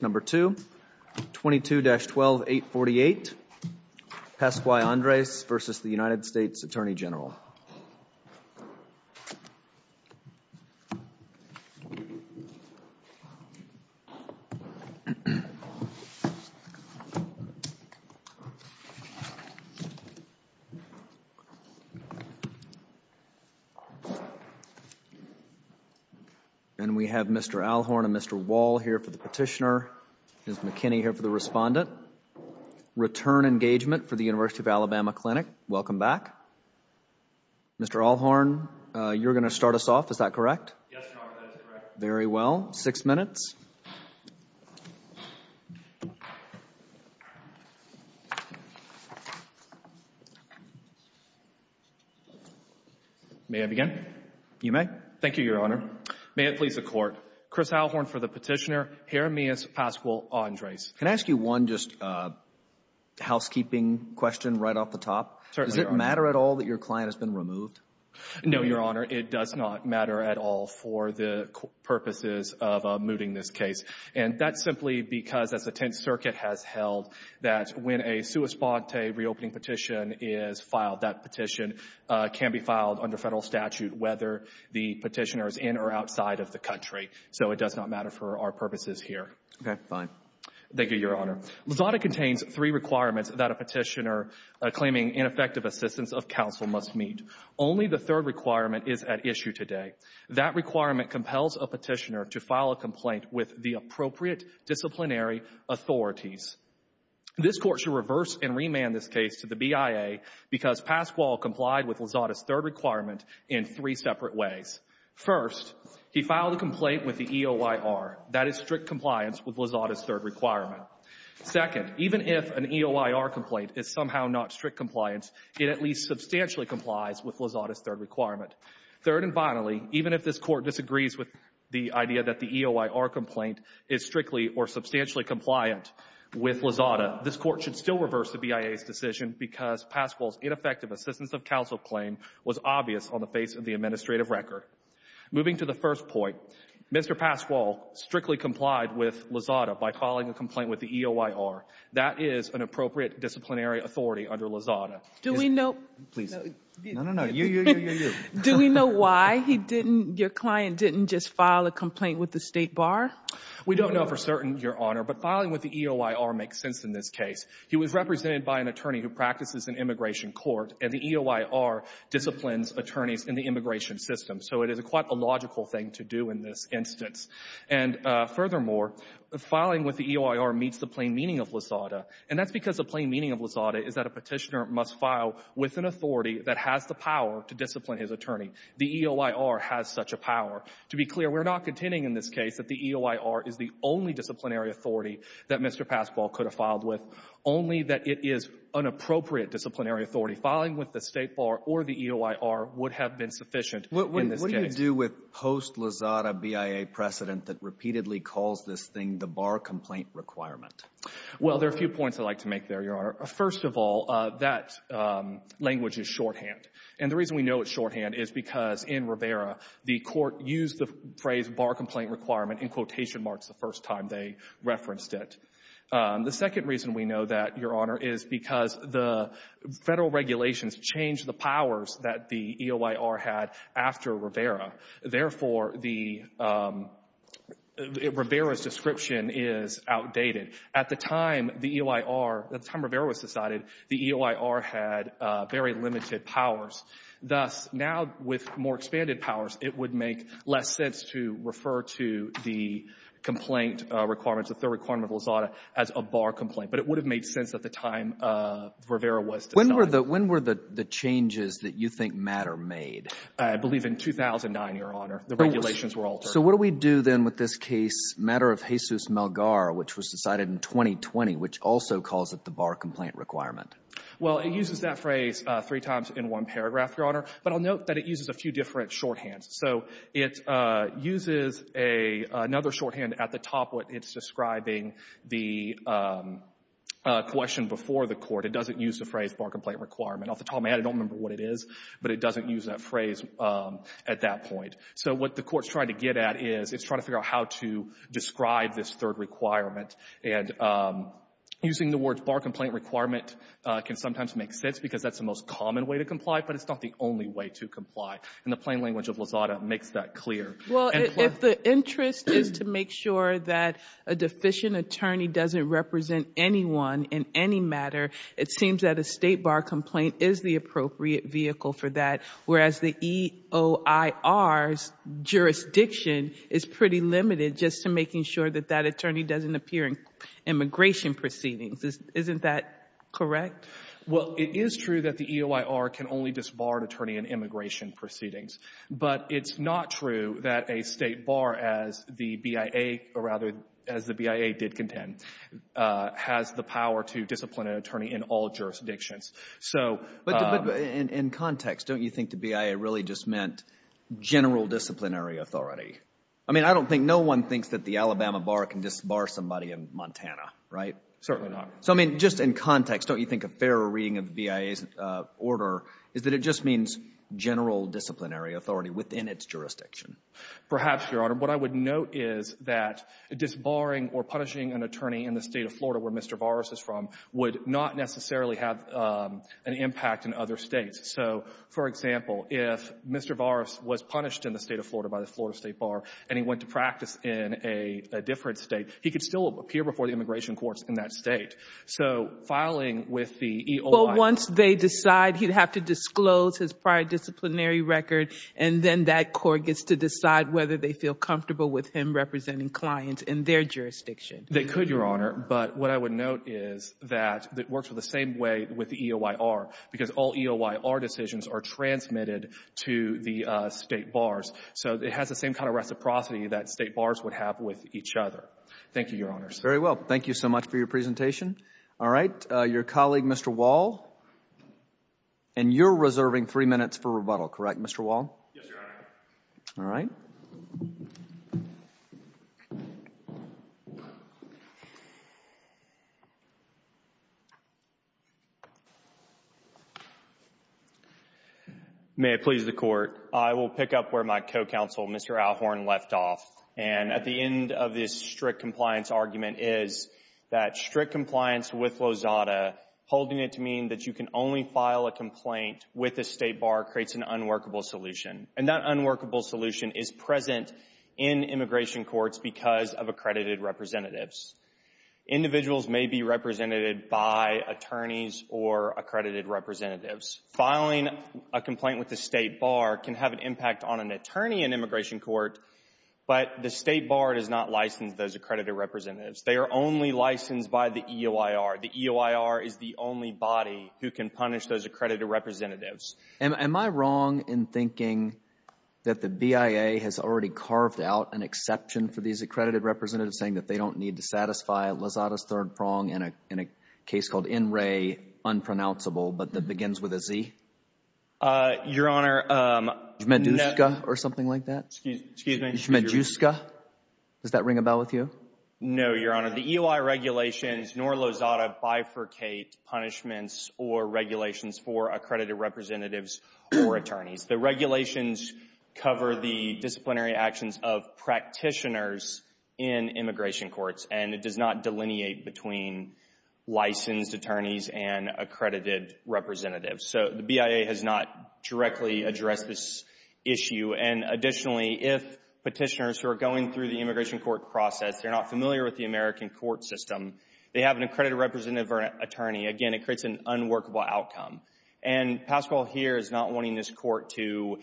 Number 2, 22-12-848 Pasqual-Andres v. U.S. Attorney General And we have Mr. Alhorn and Mr. Wall here for the petitioner, Ms. McKinney here for the respondent. Return engagement for the University of Alabama Clinic. Welcome back. Mr. Alhorn, you're going to start us off, is that correct? Yes, Your Honor, that is correct. Very well. Six minutes. May I begin? You may. Thank you, Your Honor. May it please the Court, Chris Alhorn for the petitioner, Jeremias Pasqual-Andres. Can I ask you one just housekeeping question right off the top? Does it matter at all that your client has been removed? No, Your Honor, it does not matter at all for the purposes of mooting this case. And that's simply because, as the Tenth Circuit has held, that when a sua sponte reopening petition is filed, that petition can be filed under Federal statute whether the petitioner is in or outside of the country. So it does not matter for our purposes here. Okay, fine. Thank you, Your Honor. Your Honor, Lazada contains three requirements that a petitioner claiming ineffective assistance of counsel must meet. Only the third requirement is at issue today. That requirement compels a petitioner to file a complaint with the appropriate disciplinary authorities. This Court should reverse and remand this case to the BIA because Pasqual complied with Lazada's third requirement in three separate ways. First, he filed a complaint with the EOYR. That is strict compliance with Lazada's third requirement. Second, even if an EOYR complaint is somehow not strict compliance, it at least substantially complies with Lazada's third requirement. Third and finally, even if this Court disagrees with the idea that the EOYR complaint is strictly or substantially compliant with Lazada, this Court should still reverse the BIA's decision because Pasqual's ineffective assistance of counsel claim was obvious on the face of the administrative record. Moving to the first point, Mr. Pasqual strictly complied with Lazada by filing a complaint with the EOYR. That is an appropriate disciplinary authority under Lazada. Do we know why your client didn't just file a complaint with the State Bar? We don't know for certain, Your Honor, but filing with the EOYR makes sense in this case. He was represented by an attorney who practices in immigration court and the EOYR disciplines attorneys in the immigration system. So it is quite a logical thing to do in this instance. And furthermore, filing with the EOYR meets the plain meaning of Lazada. And that's because the plain meaning of Lazada is that a petitioner must file with an authority that has the power to discipline his attorney. The EOYR has such a power. To be clear, we're not contending in this case that the EOYR is the only disciplinary authority that Mr. Pasqual could have filed with, only that it is an appropriate disciplinary authority. Filing with the State Bar or the EOYR would have been sufficient in this case. What do you do with post-Lazada BIA precedent that repeatedly calls this thing the bar complaint requirement? Well, there are a few points I'd like to make there, Your Honor. First of all, that language is shorthand. And the reason we know it's shorthand is because in Rivera, the Court used the phrase bar complaint requirement in quotation marks the first time they referenced it. The second reason we know that, Your Honor, is because the Federal regulations changed the powers that the EOYR had after Rivera. Therefore, the Rivera's description is outdated. At the time the EOYR, at the time Rivera was decided, the EOYR had very limited powers. Thus, now with more expanded powers, it would make less sense to refer to the complaint requirements, the third requirement of Lazada, as a bar complaint. But it would have made sense at the time Rivera was decided. When were the changes that you think MATTER made? I believe in 2009, Your Honor. The regulations were altered. So what do we do then with this case, MATTER of Jesus Melgar, which was decided in 2020, which also calls it the bar complaint requirement? Well, it uses that phrase three times in one paragraph, Your Honor. But I'll note that it uses a few different shorthands. So it uses another shorthand at the top where it's describing the question before the court. It doesn't use the phrase bar complaint requirement. Off the top of my head, I don't remember what it is, but it doesn't use that phrase at that point. So what the Court's trying to get at is it's trying to figure out how to describe this third requirement. And using the words bar complaint requirement can sometimes make sense because that's the most common way to comply, but it's not the only way to comply. And the plain language of Lozada makes that clear. Well, if the interest is to make sure that a deficient attorney doesn't represent anyone in any matter, it seems that a state bar complaint is the appropriate vehicle for that, whereas the EOIR's jurisdiction is pretty limited just to making sure that that attorney doesn't appear in immigration proceedings. Isn't that correct? Well, it is true that the EOIR can only disbar an attorney in immigration proceedings, but it's not true that a state bar, as the BIA, or rather as the BIA did contend, has the power to discipline an attorney in all jurisdictions. But in context, don't you think the BIA really just meant general disciplinary authority? I mean, I don't think, no one thinks that the Alabama bar can disbar somebody in Montana, right? Certainly not. So, I mean, just in context, don't you think a fairer reading of the BIA's order is that it just means general disciplinary authority within its jurisdiction? Perhaps, Your Honor. What I would note is that disbarring or punishing an attorney in the State of Florida where Mr. Varas is from would not necessarily have an impact in other States. So, for example, if Mr. Varas was punished in the State of Florida by the Florida State Bar and he went to practice in a different State, he could still appear before the immigration courts in that State. So, filing with the EOIR... But once they decide he'd have to disclose his prior disciplinary record, and then that court gets to decide whether they feel comfortable with him representing clients in their jurisdiction. They could, Your Honor. But what I would note is that it works the same way with the EOIR, because all EOIR decisions are transmitted to the State bars. So, it has the same kind of reciprocity that State bars would have with each other. Thank you, Your Honors. Very well. Thank you so much for your presentation. All right. Your colleague, Mr. Wall, and you're reserving three minutes for rebuttal, correct, Mr. Wall? Yes, Your Honor. All right. May it please the Court. I will pick up where my co-counsel, Mr. Alhorn, left off. And at the end of this strict compliance argument is that strict compliance with Lozada, holding it to mean that you can only file a complaint with a State bar, creates an unworkable solution. And that unworkable solution is present in immigration courts because of accredited representatives. Individuals may be represented by attorneys or accredited representatives. Filing a complaint with the State bar can have an impact on an attorney in immigration court, but the State bar does not license those accredited representatives. They are only licensed by the EOIR. The EOIR is the only body who can punish those accredited representatives. Am I wrong in thinking that the BIA has already carved out an exception for these accredited representatives saying that they don't need to satisfy Lozada's third prong in a case called NREA, unpronounceable, but that begins with a Z? Your Honor, no— Medusca or something like that? Medusca? Does that ring a bell with you? No, Your Honor. The EOIR regulations nor Lozada bifurcate punishments or regulations for accredited representatives or attorneys. The regulations cover the disciplinary actions of practitioners in immigration courts, and it does not delineate between licensed attorneys and accredited representatives. So the BIA has not directly addressed this issue. And additionally, if petitioners who are going through the immigration court process, they're not familiar with the American court system, they have an accredited representative or attorney, again, it creates an unworkable outcome. And Pascual here is not wanting this court to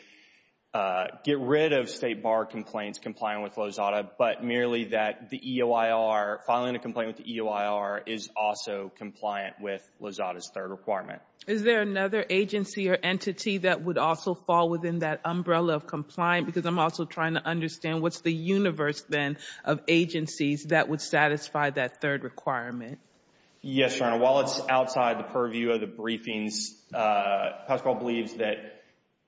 get rid of State bar complaints complying with Lozada, but merely that the EOIR, filing a complaint with the EOIR, is also compliant with Lozada's third requirement. Is there another agency or entity that would also fall within that umbrella of compliant? Because I'm also trying to understand what's the universe then of agencies that would satisfy that third requirement? Yes, Your Honor. While it's outside the purview of the briefings, Pascual believes that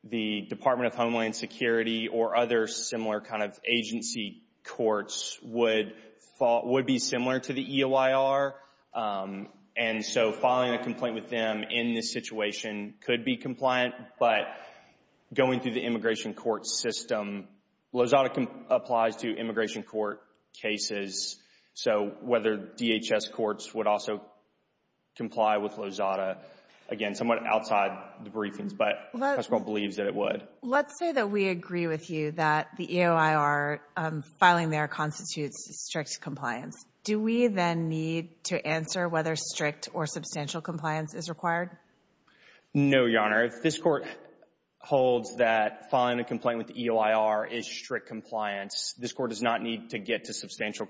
the Department of Homeland Security or other similar kind of agency courts would be similar to the EOIR. And so filing a complaint with them in this situation could be compliant, but going through the immigration court system, Lozada applies to immigration court cases. So whether DHS courts would also comply with Lozada, again, somewhat outside the briefings, but Pascual believes that it would. Let's say that we agree with you that the EOIR filing there constitutes strict compliance. Do we then need to answer whether strict or substantial compliance is required? No, Your Honor. This Court holds that filing a complaint with the EOIR is strict compliance. This Court does not need to get to substantial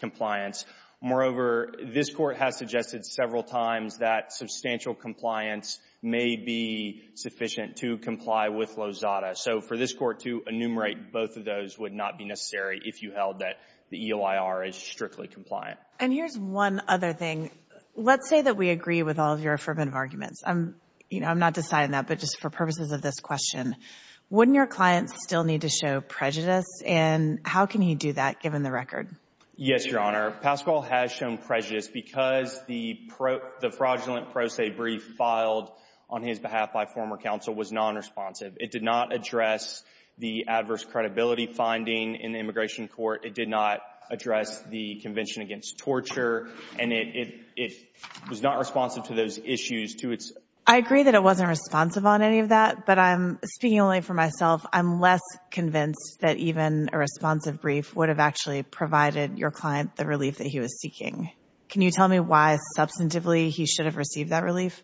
compliance. Moreover, this Court has suggested several times that substantial compliance may be sufficient to comply with Lozada. So for this Court to enumerate both of those would not be necessary if you held that EOIR is strictly compliant. And here's one other thing. Let's say that we agree with all of your affirmative arguments. I'm not deciding that, but just for purposes of this question, wouldn't your client still need to show prejudice? And how can he do that given the record? Yes, Your Honor. Pascual has shown prejudice because the fraudulent pro se brief filed on his behalf by former counsel was non-responsive. It did not address the adverse credibility finding in the immigration court. It did not address the Convention Against Torture. And it was not responsive to those issues to its— I agree that it wasn't responsive on any of that. But I'm speaking only for myself. I'm less convinced that even a responsive brief would have actually provided your client the relief that he was seeking. Can you tell me why, substantively, he should have received that relief?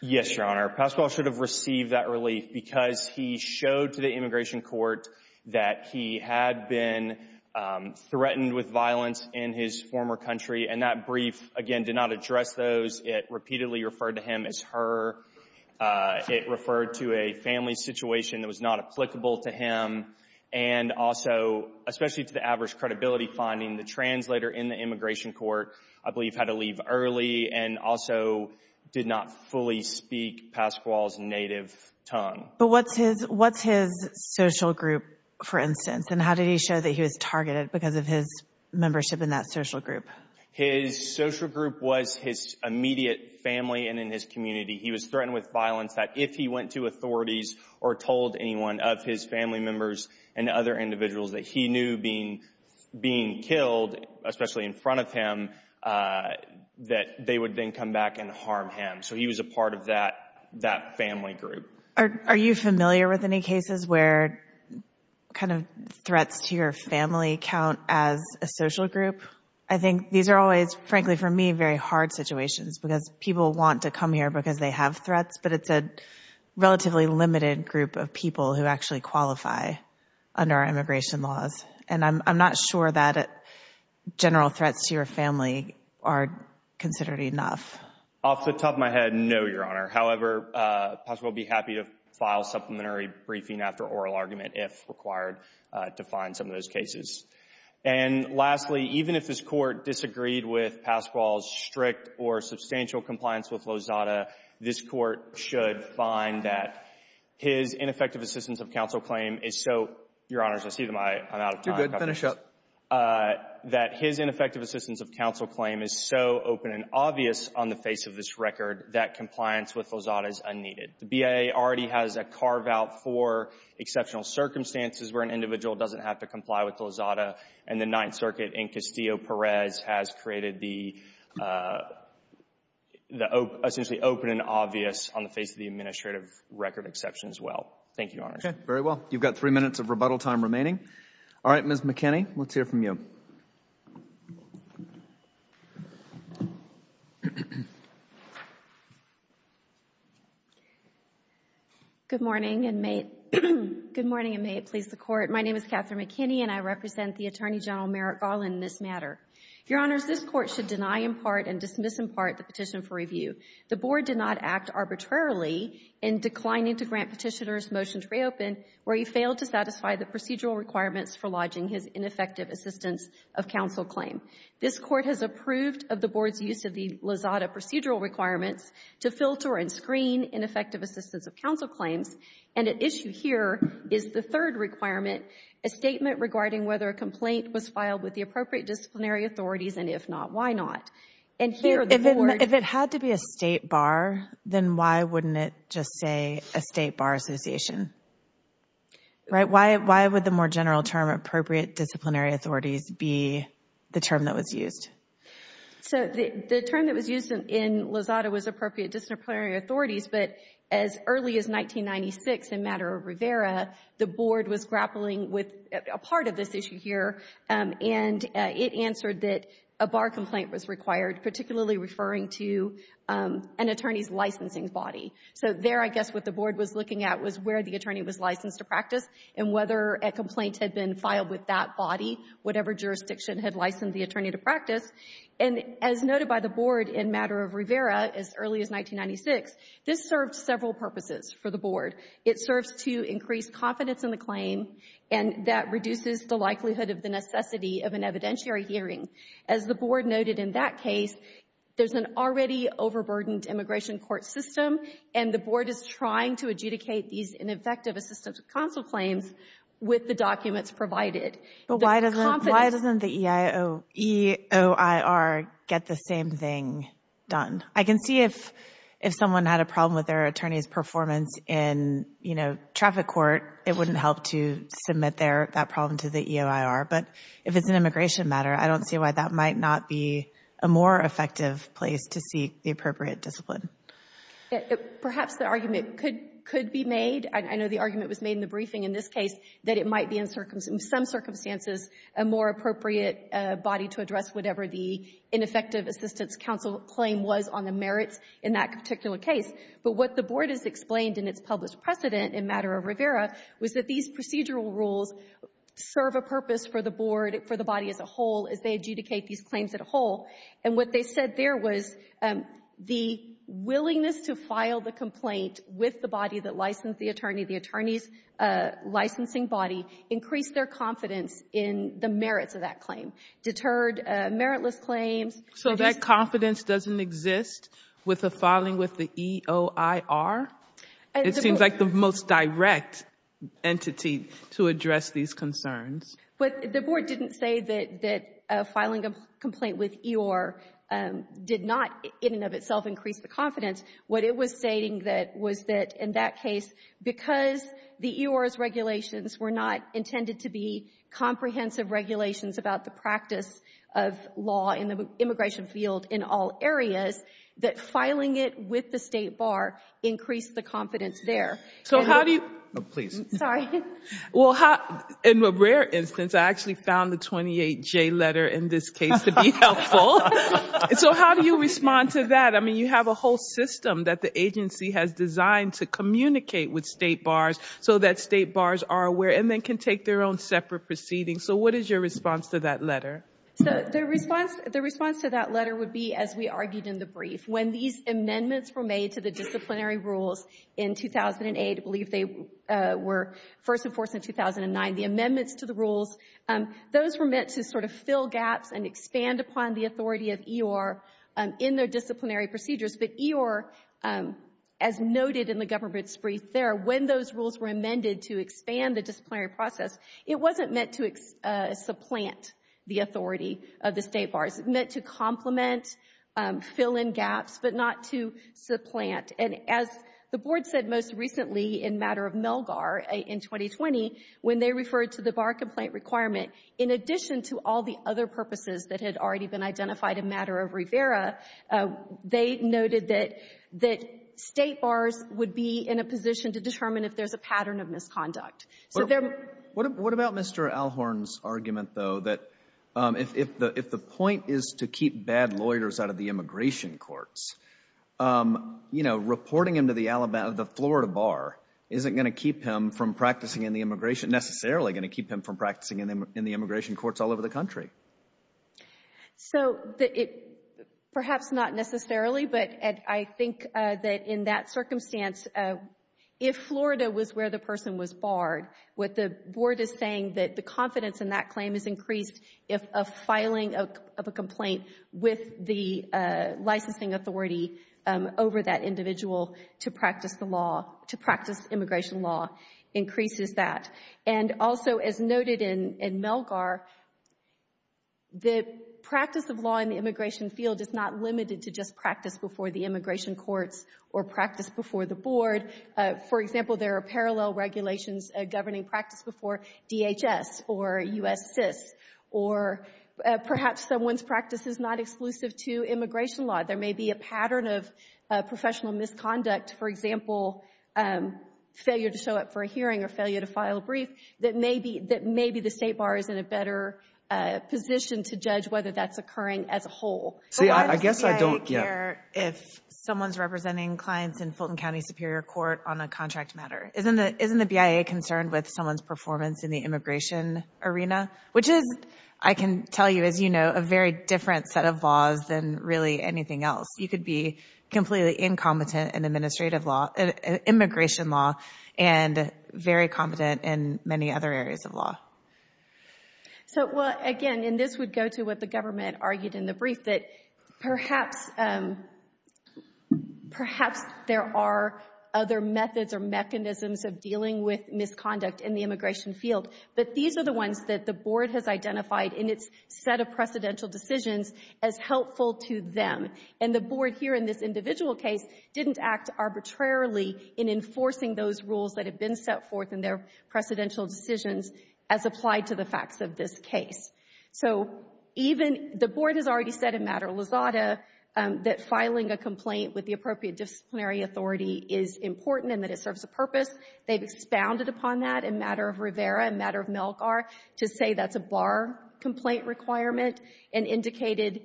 Yes, Your Honor. Pascual should have received that relief because he showed to the immigration court that he had been threatened with violence in his former country. And that brief, again, did not address those. It repeatedly referred to him as her. It referred to a family situation that was not applicable to him. And also, especially to the adverse credibility finding, the translator in the immigration court, I believe, had to leave early and also did not fully speak Pascual's native tongue. But what's his social group, for instance, and how did he show that he was targeted because of his membership in that social group? His social group was his immediate family and in his community. He was threatened with violence that if he went to authorities or told anyone of his family members and other individuals that he knew being killed, especially in front of him, that they would then come back and harm him. So he was a part of that family group. Are you familiar with any cases where kind of threats to your family count as a social group? I think these are always, frankly, for me, very hard situations because people want to come here because they have threats, but it's a relatively limited group of people who actually qualify under immigration laws. And I'm not sure that general threats to your family are considered enough. Off the top of my head, no, Your Honor. However, Pascual would be happy to file supplementary briefing after oral argument if required to find some of those cases. And lastly, even if this Court disagreed with Pascual's strict or substantial compliance with Lozada, this Court should find that his ineffective assistance of counsel claim is so — Your Honors, I see that I'm out of time. You're good. Finish up. That his ineffective assistance of counsel claim is so open and obvious on the face of this record, that compliance with Lozada is unneeded. The BIA already has a carve-out for exceptional circumstances where an individual doesn't have to comply with Lozada. And the Ninth Circuit in Castillo-Perez has created the essentially open and obvious on the face of the administrative record exception as well. Thank you, Your Honors. Okay. Very well. You've got three minutes of rebuttal time remaining. All right, Ms. McKinney, let's hear from you. Good morning, and may it please the Court. My name is Catherine McKinney, and I represent the Attorney General Merrick Garland in this matter. Your Honors, this Court should deny in part and dismiss in part the petition for review. The Board did not act arbitrarily in declining to grant Petitioner's motion to reopen where he failed to satisfy the procedural requirements for lodging his ineffective assistance of counsel claim. This Court has approved of the Board's use of the Lozada procedural requirements to filter and screen ineffective assistance of counsel claims, and at issue here is the third requirement, a statement regarding whether a complaint was filed with the appropriate disciplinary authorities, and if not, why not? If it had to be a state bar, then why wouldn't it just say a state bar association? Right? Why would the more general term, appropriate disciplinary authorities, be the term that was used? So the term that was used in Lozada was appropriate disciplinary authorities, but as early as 1996 in matter of Rivera, the Board was grappling with a part of this issue here, and it answered that a bar complaint was required, particularly referring to an attorney's licensing body. So there, I guess, what the Board was looking at was where the attorney was licensed to practice and whether a complaint had been filed with that body, whatever jurisdiction had licensed the attorney to practice, and as noted by the Board in matter of Rivera as early as 1996, this served several purposes for the Board. It serves to increase confidence in the claim, and that reduces the likelihood of the necessity of an evidentiary hearing. As the Board noted in that case, there's an already overburdened immigration court system, and the Board is trying to adjudicate these ineffective assistance counsel claims with the documents provided. But why doesn't the EOIR get the same thing done? I can see if someone had a problem with their attorney's performance in traffic court, it wouldn't help to submit that problem to the EOIR, but if it's an immigration matter, I don't see why that might not be a more effective place to seek the appropriate discipline. Yeah, perhaps the argument could be made. I know the argument was made in the briefing in this case that it might be in some circumstances a more appropriate body to address whatever the ineffective assistance counsel claim was on the merits in that particular case. But what the Board has explained in its published precedent in matter of Rivera was that these procedural rules serve a purpose for the Board, for the body as a whole, as they adjudicate these claims as a whole. And what they said there was the willingness to file the complaint with the body that licensed the attorney, the attorney's licensing body, increased their confidence in the merits of that claim, deterred meritless claims. So that confidence doesn't exist with a filing with the EOIR? It seems like the most direct entity to address these concerns. But the Board didn't say that filing a complaint with EOIR did not in and of itself increase the confidence. What it was stating that was that in that case, because the EOIR's regulations were not intended to be comprehensive regulations about the practice of law in the immigration field in all areas, that filing it with the State Bar increased the confidence there. So how do you... Oh, please. Sorry. Well, in a rare instance, I actually found the 28J letter in this case to be helpful. So how do you respond to that? I mean, you have a whole system that the agency has designed to communicate with State Bars so that State Bars are aware and then can take their own separate proceedings. So what is your response to that letter? So the response to that letter would be, as we argued in the brief, when these amendments were made to the disciplinary rules in 2008, believe they were first enforced in 2009, the amendments to the rules, those were meant to sort of fill gaps and expand upon the authority of EOIR in their disciplinary procedures. But EOIR, as noted in the government's brief there, when those rules were amended to expand the disciplinary process, it wasn't meant to supplant the authority of the State Bars. It meant to complement, fill in gaps, but not to supplant. And as the Board said most recently in matter of Melgar in 2020, when they referred to the bar complaint requirement, in addition to all the other purposes that had already been identified in matter of Rivera, they noted that State Bars would be in a position to determine if there's a pattern of misconduct. So there — What about Mr. Alhorn's argument, though, that if the point is to keep bad lawyers out of the immigration courts, you know, reporting him to the Alabama — the Florida Bar isn't going to keep him from practicing in the immigration — necessarily going to keep him from practicing in the immigration courts all over the country. So it — perhaps not necessarily, but I think that in that circumstance, if Florida was where the person was barred, what the Board is saying, that the confidence in that claim is increased if a filing of a complaint with the licensing authority over that individual to practice the law — to practice immigration law increases that. And also, as noted in Melgar, the practice of law in the immigration field is not limited to just practice before the immigration courts or practice before the Board. For example, there are parallel regulations governing practice before DHS or U.S. CIS or perhaps someone's practice is not exclusive to immigration law. There may be a pattern of professional misconduct — for example, failure to show up for a hearing or failure to file a brief — that maybe the state bar is in a better position to judge whether that's occurring as a whole. But why does the BIA care if someone's representing clients in Fulton County Superior Court on a contract matter? Isn't the BIA concerned with someone's performance in the immigration arena? Which is, I can tell you, as you know, a very different set of laws than really anything else. You could be completely incompetent in immigration law and very competent in many other areas of law. So, well, again — and this would go to what the government argued in the brief — that perhaps there are other methods or mechanisms of dealing with misconduct in the immigration field. But these are the ones that the Board has identified in its set of precedential decisions as helpful to them. And the Board here in this individual case didn't act arbitrarily in enforcing those rules that had been set forth in their precedential decisions as applied to the facts of this case. So even — the Board has already said in Matter-of-Lazada that filing a complaint with the appropriate disciplinary authority is important and that it serves a purpose. They've expounded upon that in Matter-of-Rivera and Matter-of-Melgar to say that's a bar complaint requirement and indicated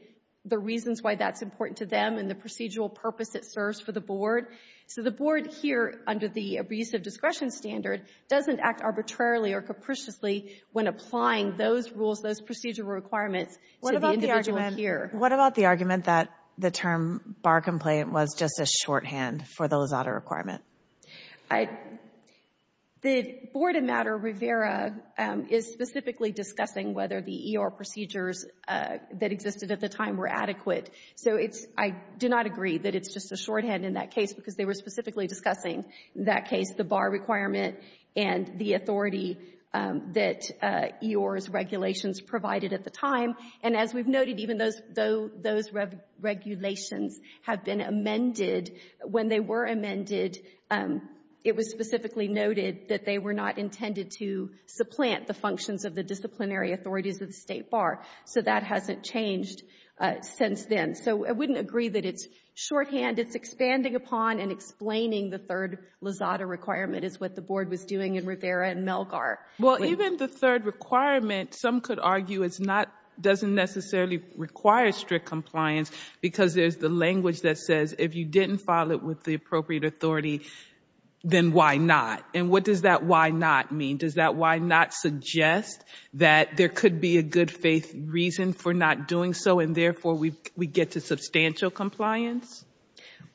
the reasons why that's important to them and the procedural purpose it serves for the Board. So the Board here, under the abusive discretion standard, doesn't act arbitrarily or capriciously when applying those rules, those procedural requirements to the individual here. What about the argument that the term bar complaint was just a shorthand for the Lazada requirement? I — the Board in Matter-of-Rivera is specifically discussing whether the E.R. procedures that existed at the time were adequate. So it's — I do not agree that it's just a shorthand in that case because they were specifically discussing in that case the bar requirement and the authority that E.R.'s regulations provided at the time. And as we've noted, even those — those regulations have been amended when they were amended, it was specifically noted that they were not intended to supplant the functions of the disciplinary authorities of the State Bar. So that hasn't changed since then. So I wouldn't agree that it's shorthand. It's expanding upon and explaining the third Lazada requirement is what the Board was doing in Rivera and Melgar. Well, even the third requirement, some could argue, doesn't necessarily require strict compliance because there's the language that says if you didn't file it with the appropriate authority, then why not? And what does that why not mean? Does that why not suggest that there could be a good faith reason for not doing so and therefore we get to substantial compliance?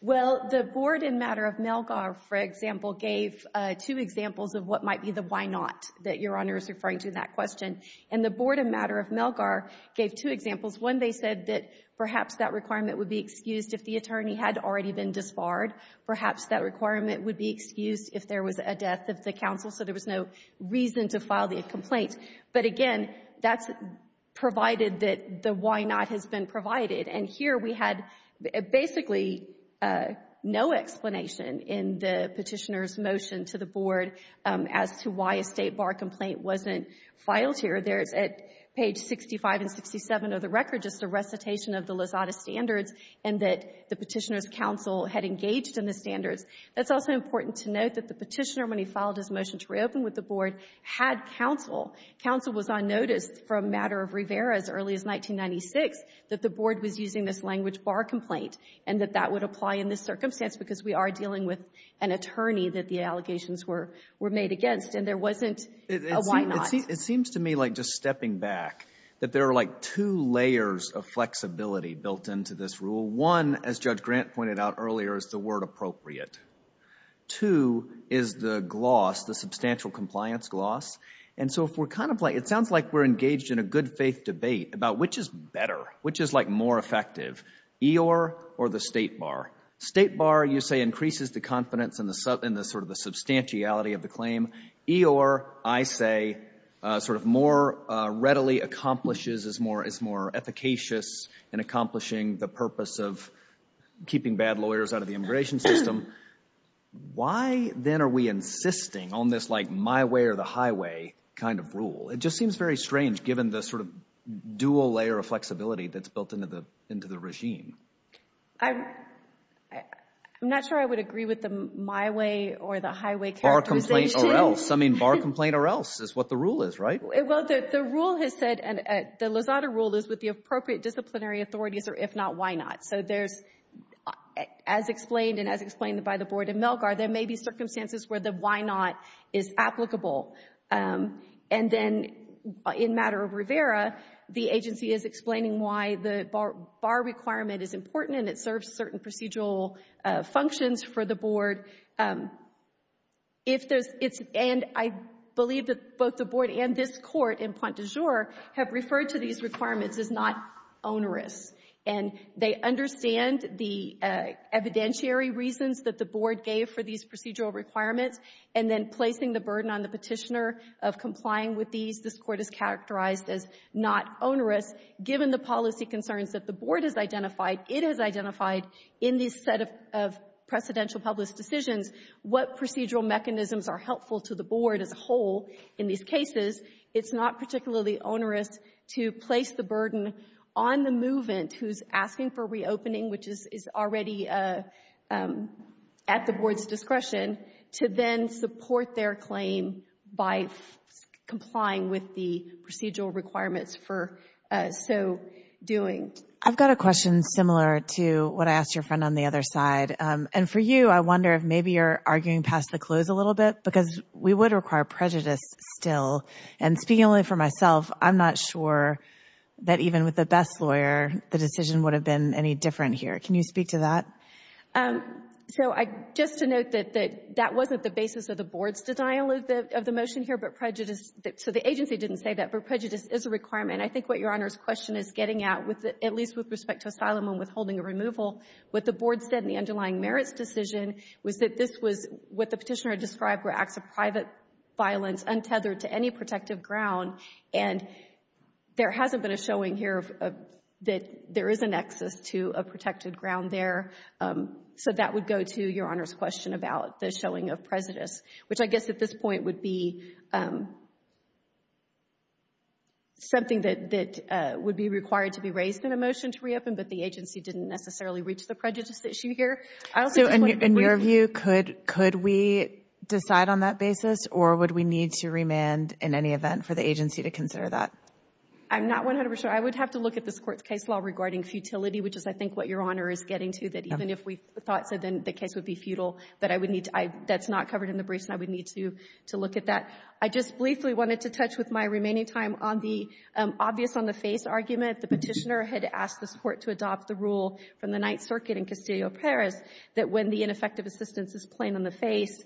Well, the Board in Matter-of-Melgar, for example, gave two examples of what might be the why not that Your Honor is referring to in that question. And the Board in Matter-of-Melgar gave two examples. One, they said that perhaps that requirement would be excused if the attorney had already been disbarred. Perhaps that requirement would be excused if there was a death of the counsel so there was no reason to file the complaint. But again, that's provided that the why not has been provided. And here we had basically no explanation in the Petitioner's motion to the Board as to why a State Bar complaint wasn't filed here. There's at page 65 and 67 of the record just a recitation of the Lozada Standards and that the Petitioner's counsel had engaged in the standards. That's also important to note that the Petitioner, when he filed his motion to reopen with the Board, had counsel. Counsel was on notice from Matter-of-Rivera as early as 1996 that the Board was using this language bar complaint and that that would apply in this circumstance because we are dealing with an attorney that the allegations were made against and there wasn't a why not. It seems to me like just stepping back that there are like two layers of flexibility built into this rule. One, as Judge Grant pointed out earlier, is the word appropriate. Two is the gloss, the substantial compliance gloss. And so if we're kind of like, it sounds like we're engaged in a good faith debate about which is better, which is like more effective, EOR or the State Bar. State Bar, you say, increases the confidence in the sort of the substantiality of the claim. EOR, I say, sort of more readily accomplishes as more efficacious in accomplishing the purpose of keeping bad lawyers out of the immigration system. Why then are we insisting on this like my way or the highway kind of rule? It just seems very strange given the sort of dual layer of flexibility that's built into the regime. I'm not sure I would agree with the my way or the highway characterization. Bar complaint or else. I mean, bar complaint or else is what the rule is, right? Well, the rule has said, and the Lozada rule is with the appropriate disciplinary authorities or if not, why not? So there's, as explained and as explained by the Board of Melgar, there may be circumstances where the why not is applicable. And then in matter of Rivera, the agency is explaining why the bar requirement is important and it serves certain procedural functions for the board. If there's, and I believe that both the board and this court in Pointe du Jour have referred to these requirements as not onerous and they understand the evidentiary reasons that the board gave for these procedural requirements and then placing the burden on the petitioner of complying with these, this court has characterized as not onerous given the policy concerns that the board has identified. It has identified in this set of precedential public decisions what procedural mechanisms are helpful to the board as a whole in these cases. It's not particularly onerous to place the burden on the movement who's asking for reopening, which is already at the board's discretion to then support their claim by complying with the procedural requirements for so doing. I've got a question similar to what I asked your friend on the other side. And for you, I wonder if maybe you're arguing past the close a little bit because we would require prejudice still. And speaking only for myself, I'm not sure that even with the best lawyer, the decision would have been any different here. Can you speak to that? So just to note that that wasn't the basis of the board's denial of the motion here, but prejudice, so the agency didn't say that, but prejudice is a requirement. I think what Your Honor's question is getting at at least with respect to asylum and withholding or removal, what the board said in the underlying merits decision was that this was what the petitioner described were acts of private violence untethered to any protective ground. And there hasn't been a showing here that there isn't access to a protected ground there. So that would go to Your Honor's question about the showing of prejudice, which I guess at this point would be something that would be required to be raised in a motion to reopen, but the agency didn't necessarily reach the prejudice issue here. So in your view, could we decide on that basis or would we need to remand in any event for the agency to consider that? I'm not 100% sure. I would have to look at this court's case law regarding futility, which is I think what Your Honor is getting to, that even if we thought so, then the case would be futile. But that's not covered in the briefs and I would need to look at that. I just briefly wanted to touch with my remaining time on the obvious-on-the-face argument. The Petitioner had asked this Court to adopt the rule from the Ninth Circuit in Castillo-Perez that when the ineffective assistance is plain-on-the-face,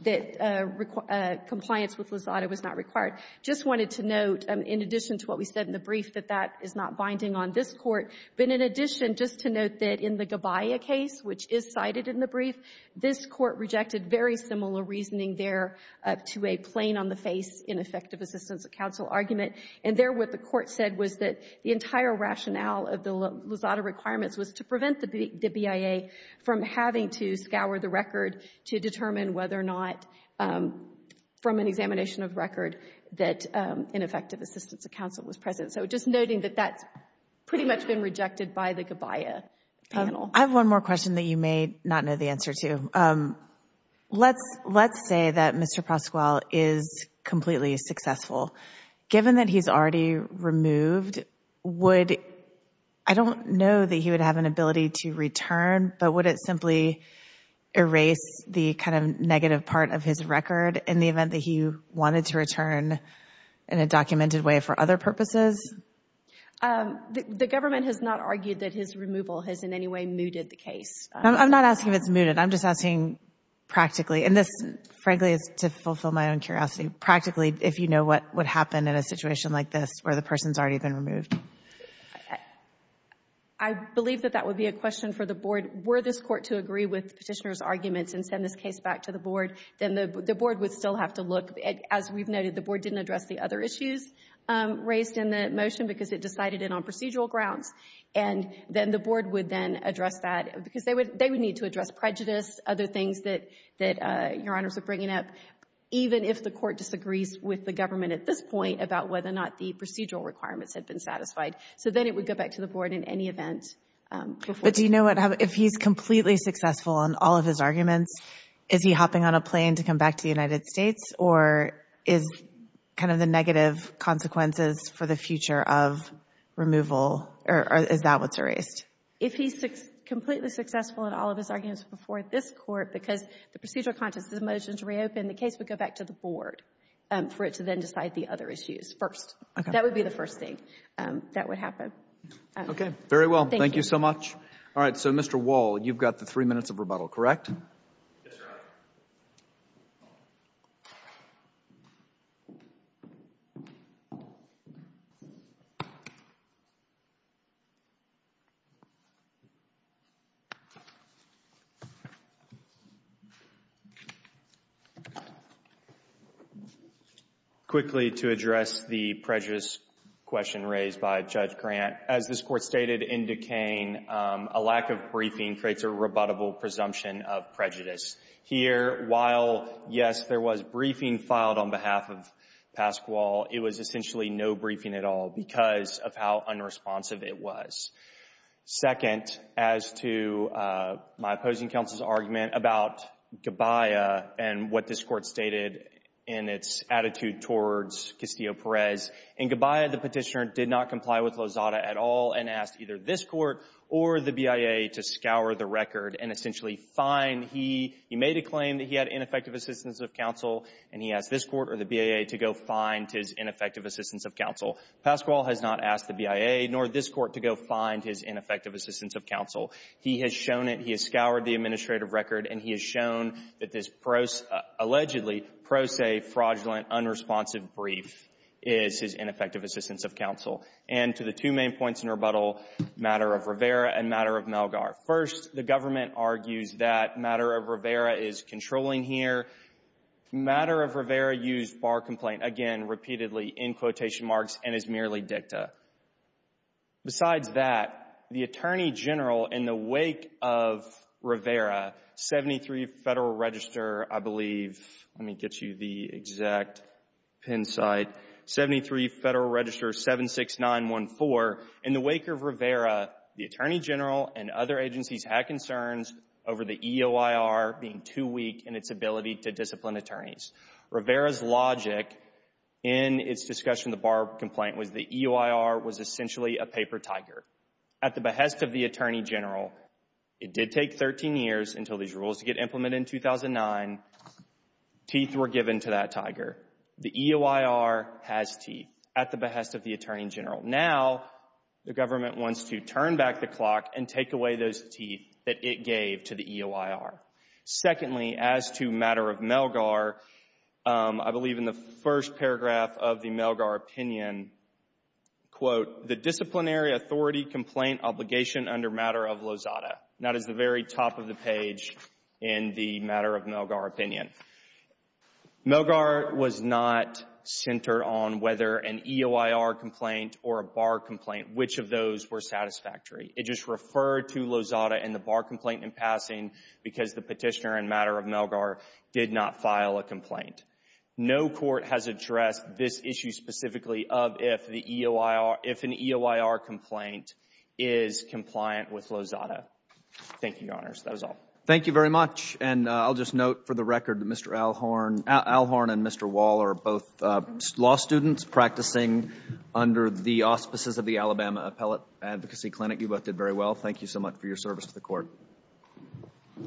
that compliance with lasada was not required. Just wanted to note, in addition to what we said in the brief, that that is not binding on this Court. But in addition, just to note that in the Gabaya case, which is cited in the brief, this Court rejected very similar reasoning there to a plain-on-the-face ineffective assistance of counsel argument. And there what the Court said was that the entire rationale of the lasada requirements was to prevent the BIA from having to scour the record to determine whether or not, from an examination of record, that ineffective assistance of counsel was present. So just noting that that's pretty much been rejected by the Gabaya panel. I have one more question that you may not know the answer to. Let's say that Mr. Pascual is completely successful. Given that he's already removed, would, I don't know that he would have an ability to return, but would it simply erase the kind of negative part of his record in the event that he wanted to return in a documented way for other purposes? The government has not argued that his removal has in any way mooted the case. I'm not asking if it's mooted. I'm just asking practically. And this, frankly, is to fulfill my own curiosity. Practically, if you know what would happen in a situation like this where the person's already been removed. I believe that that would be a question for the Board. Were this Court to agree with the petitioner's arguments and send this case back to the Board, then the Board would still have to look. As we've noted, the Board didn't address the other issues raised in the motion because it decided it on procedural grounds. And then the Board would then address that because they would need to address prejudice, other things that Your Honors are bringing up, even if the Court disagrees with the government at this point about whether or not the procedural requirements had been satisfied. So then it would go back to the Board in any event. But do you know what happens if he's completely successful on all of his arguments? Is he hopping on a plane to come back to the United States? Or is kind of the negative consequences for the future of removal? Or is that what's erased? If he's completely successful in all of his arguments before this Court, because the procedural context of the motion is reopened, the case would go back to the Board for it to then decide the other issues first. That would be the first thing that would happen. Very well. Thank you so much. All right. So, Mr. Wall, you've got the three minutes of rebuttal, correct? Yes, Your Honor. Quickly, to address the prejudice question raised by Judge Grant, as this Court stated in Duquesne, a lack of briefing creates a rebuttable presumption of prejudice. Here, while, yes, there was briefing filed on behalf of Pasquale, it was essentially no briefing at all because of how unresponsive it was. Second, as to my opposing counsel's argument about Gabbaia and what this Court stated in its attitude towards Castillo-Perez, in Gabbaia, the petitioner did not comply with Lozada at all and asked either this Court or the BIA to scour the record and essentially find he made a claim that he had ineffective assistance of counsel and he asked this Court or the BIA to go find his ineffective assistance of counsel. Pasquale has not asked the BIA nor this Court to go find his ineffective assistance of counsel. He has shown it. He has scoured the administrative record and he has shown that this allegedly pro se, fraudulent, unresponsive brief is his ineffective assistance of counsel. And to the two main points in rebuttal, matter of Rivera and matter of Malgar. First, the government argues that matter of Rivera is controlling here. Matter of Rivera used bar complaint, again, repeatedly in quotation marks and is merely dicta. Besides that, the Attorney General in the wake of Rivera, 73 Federal Register, I believe, let me get you the exact pin site, 73 Federal Register 76914, in the wake of Rivera, the Attorney General and other agencies had concerns over the EOIR being too weak in its ability to discipline attorneys. Rivera's logic in its discussion of the bar complaint was the EOIR was essentially a paper tiger. At the behest of the Attorney General, it did take 13 years until these rules to get implemented in 2009. Teeth were given to that tiger. The EOIR has teeth at the behest of the Attorney General. Now, the government wants to turn back the clock and take away those teeth that it gave to the EOIR. Secondly, as to matter of Malgar, I believe in the first paragraph of the Malgar opinion, quote, the disciplinary authority complaint obligation under matter of Lozada. That is the very top of the page in the matter of Malgar opinion. Malgar was not centered on whether an EOIR complaint or a bar complaint, which of those were satisfactory. It just referred to Lozada and the bar complaint in passing because the petitioner and matter of Malgar did not file a complaint. No court has addressed this issue specifically of if the EOIR, if an EOIR complaint is compliant with Lozada. Thank you, Your Honors. That is all. Thank you very much. And I'll just note for the record that Mr. Alhorn and Mr. Wall are both law students practicing under the auspices of the Alabama Appellate Advocacy Clinic. You both did very well. Thank you so much for your service to the court.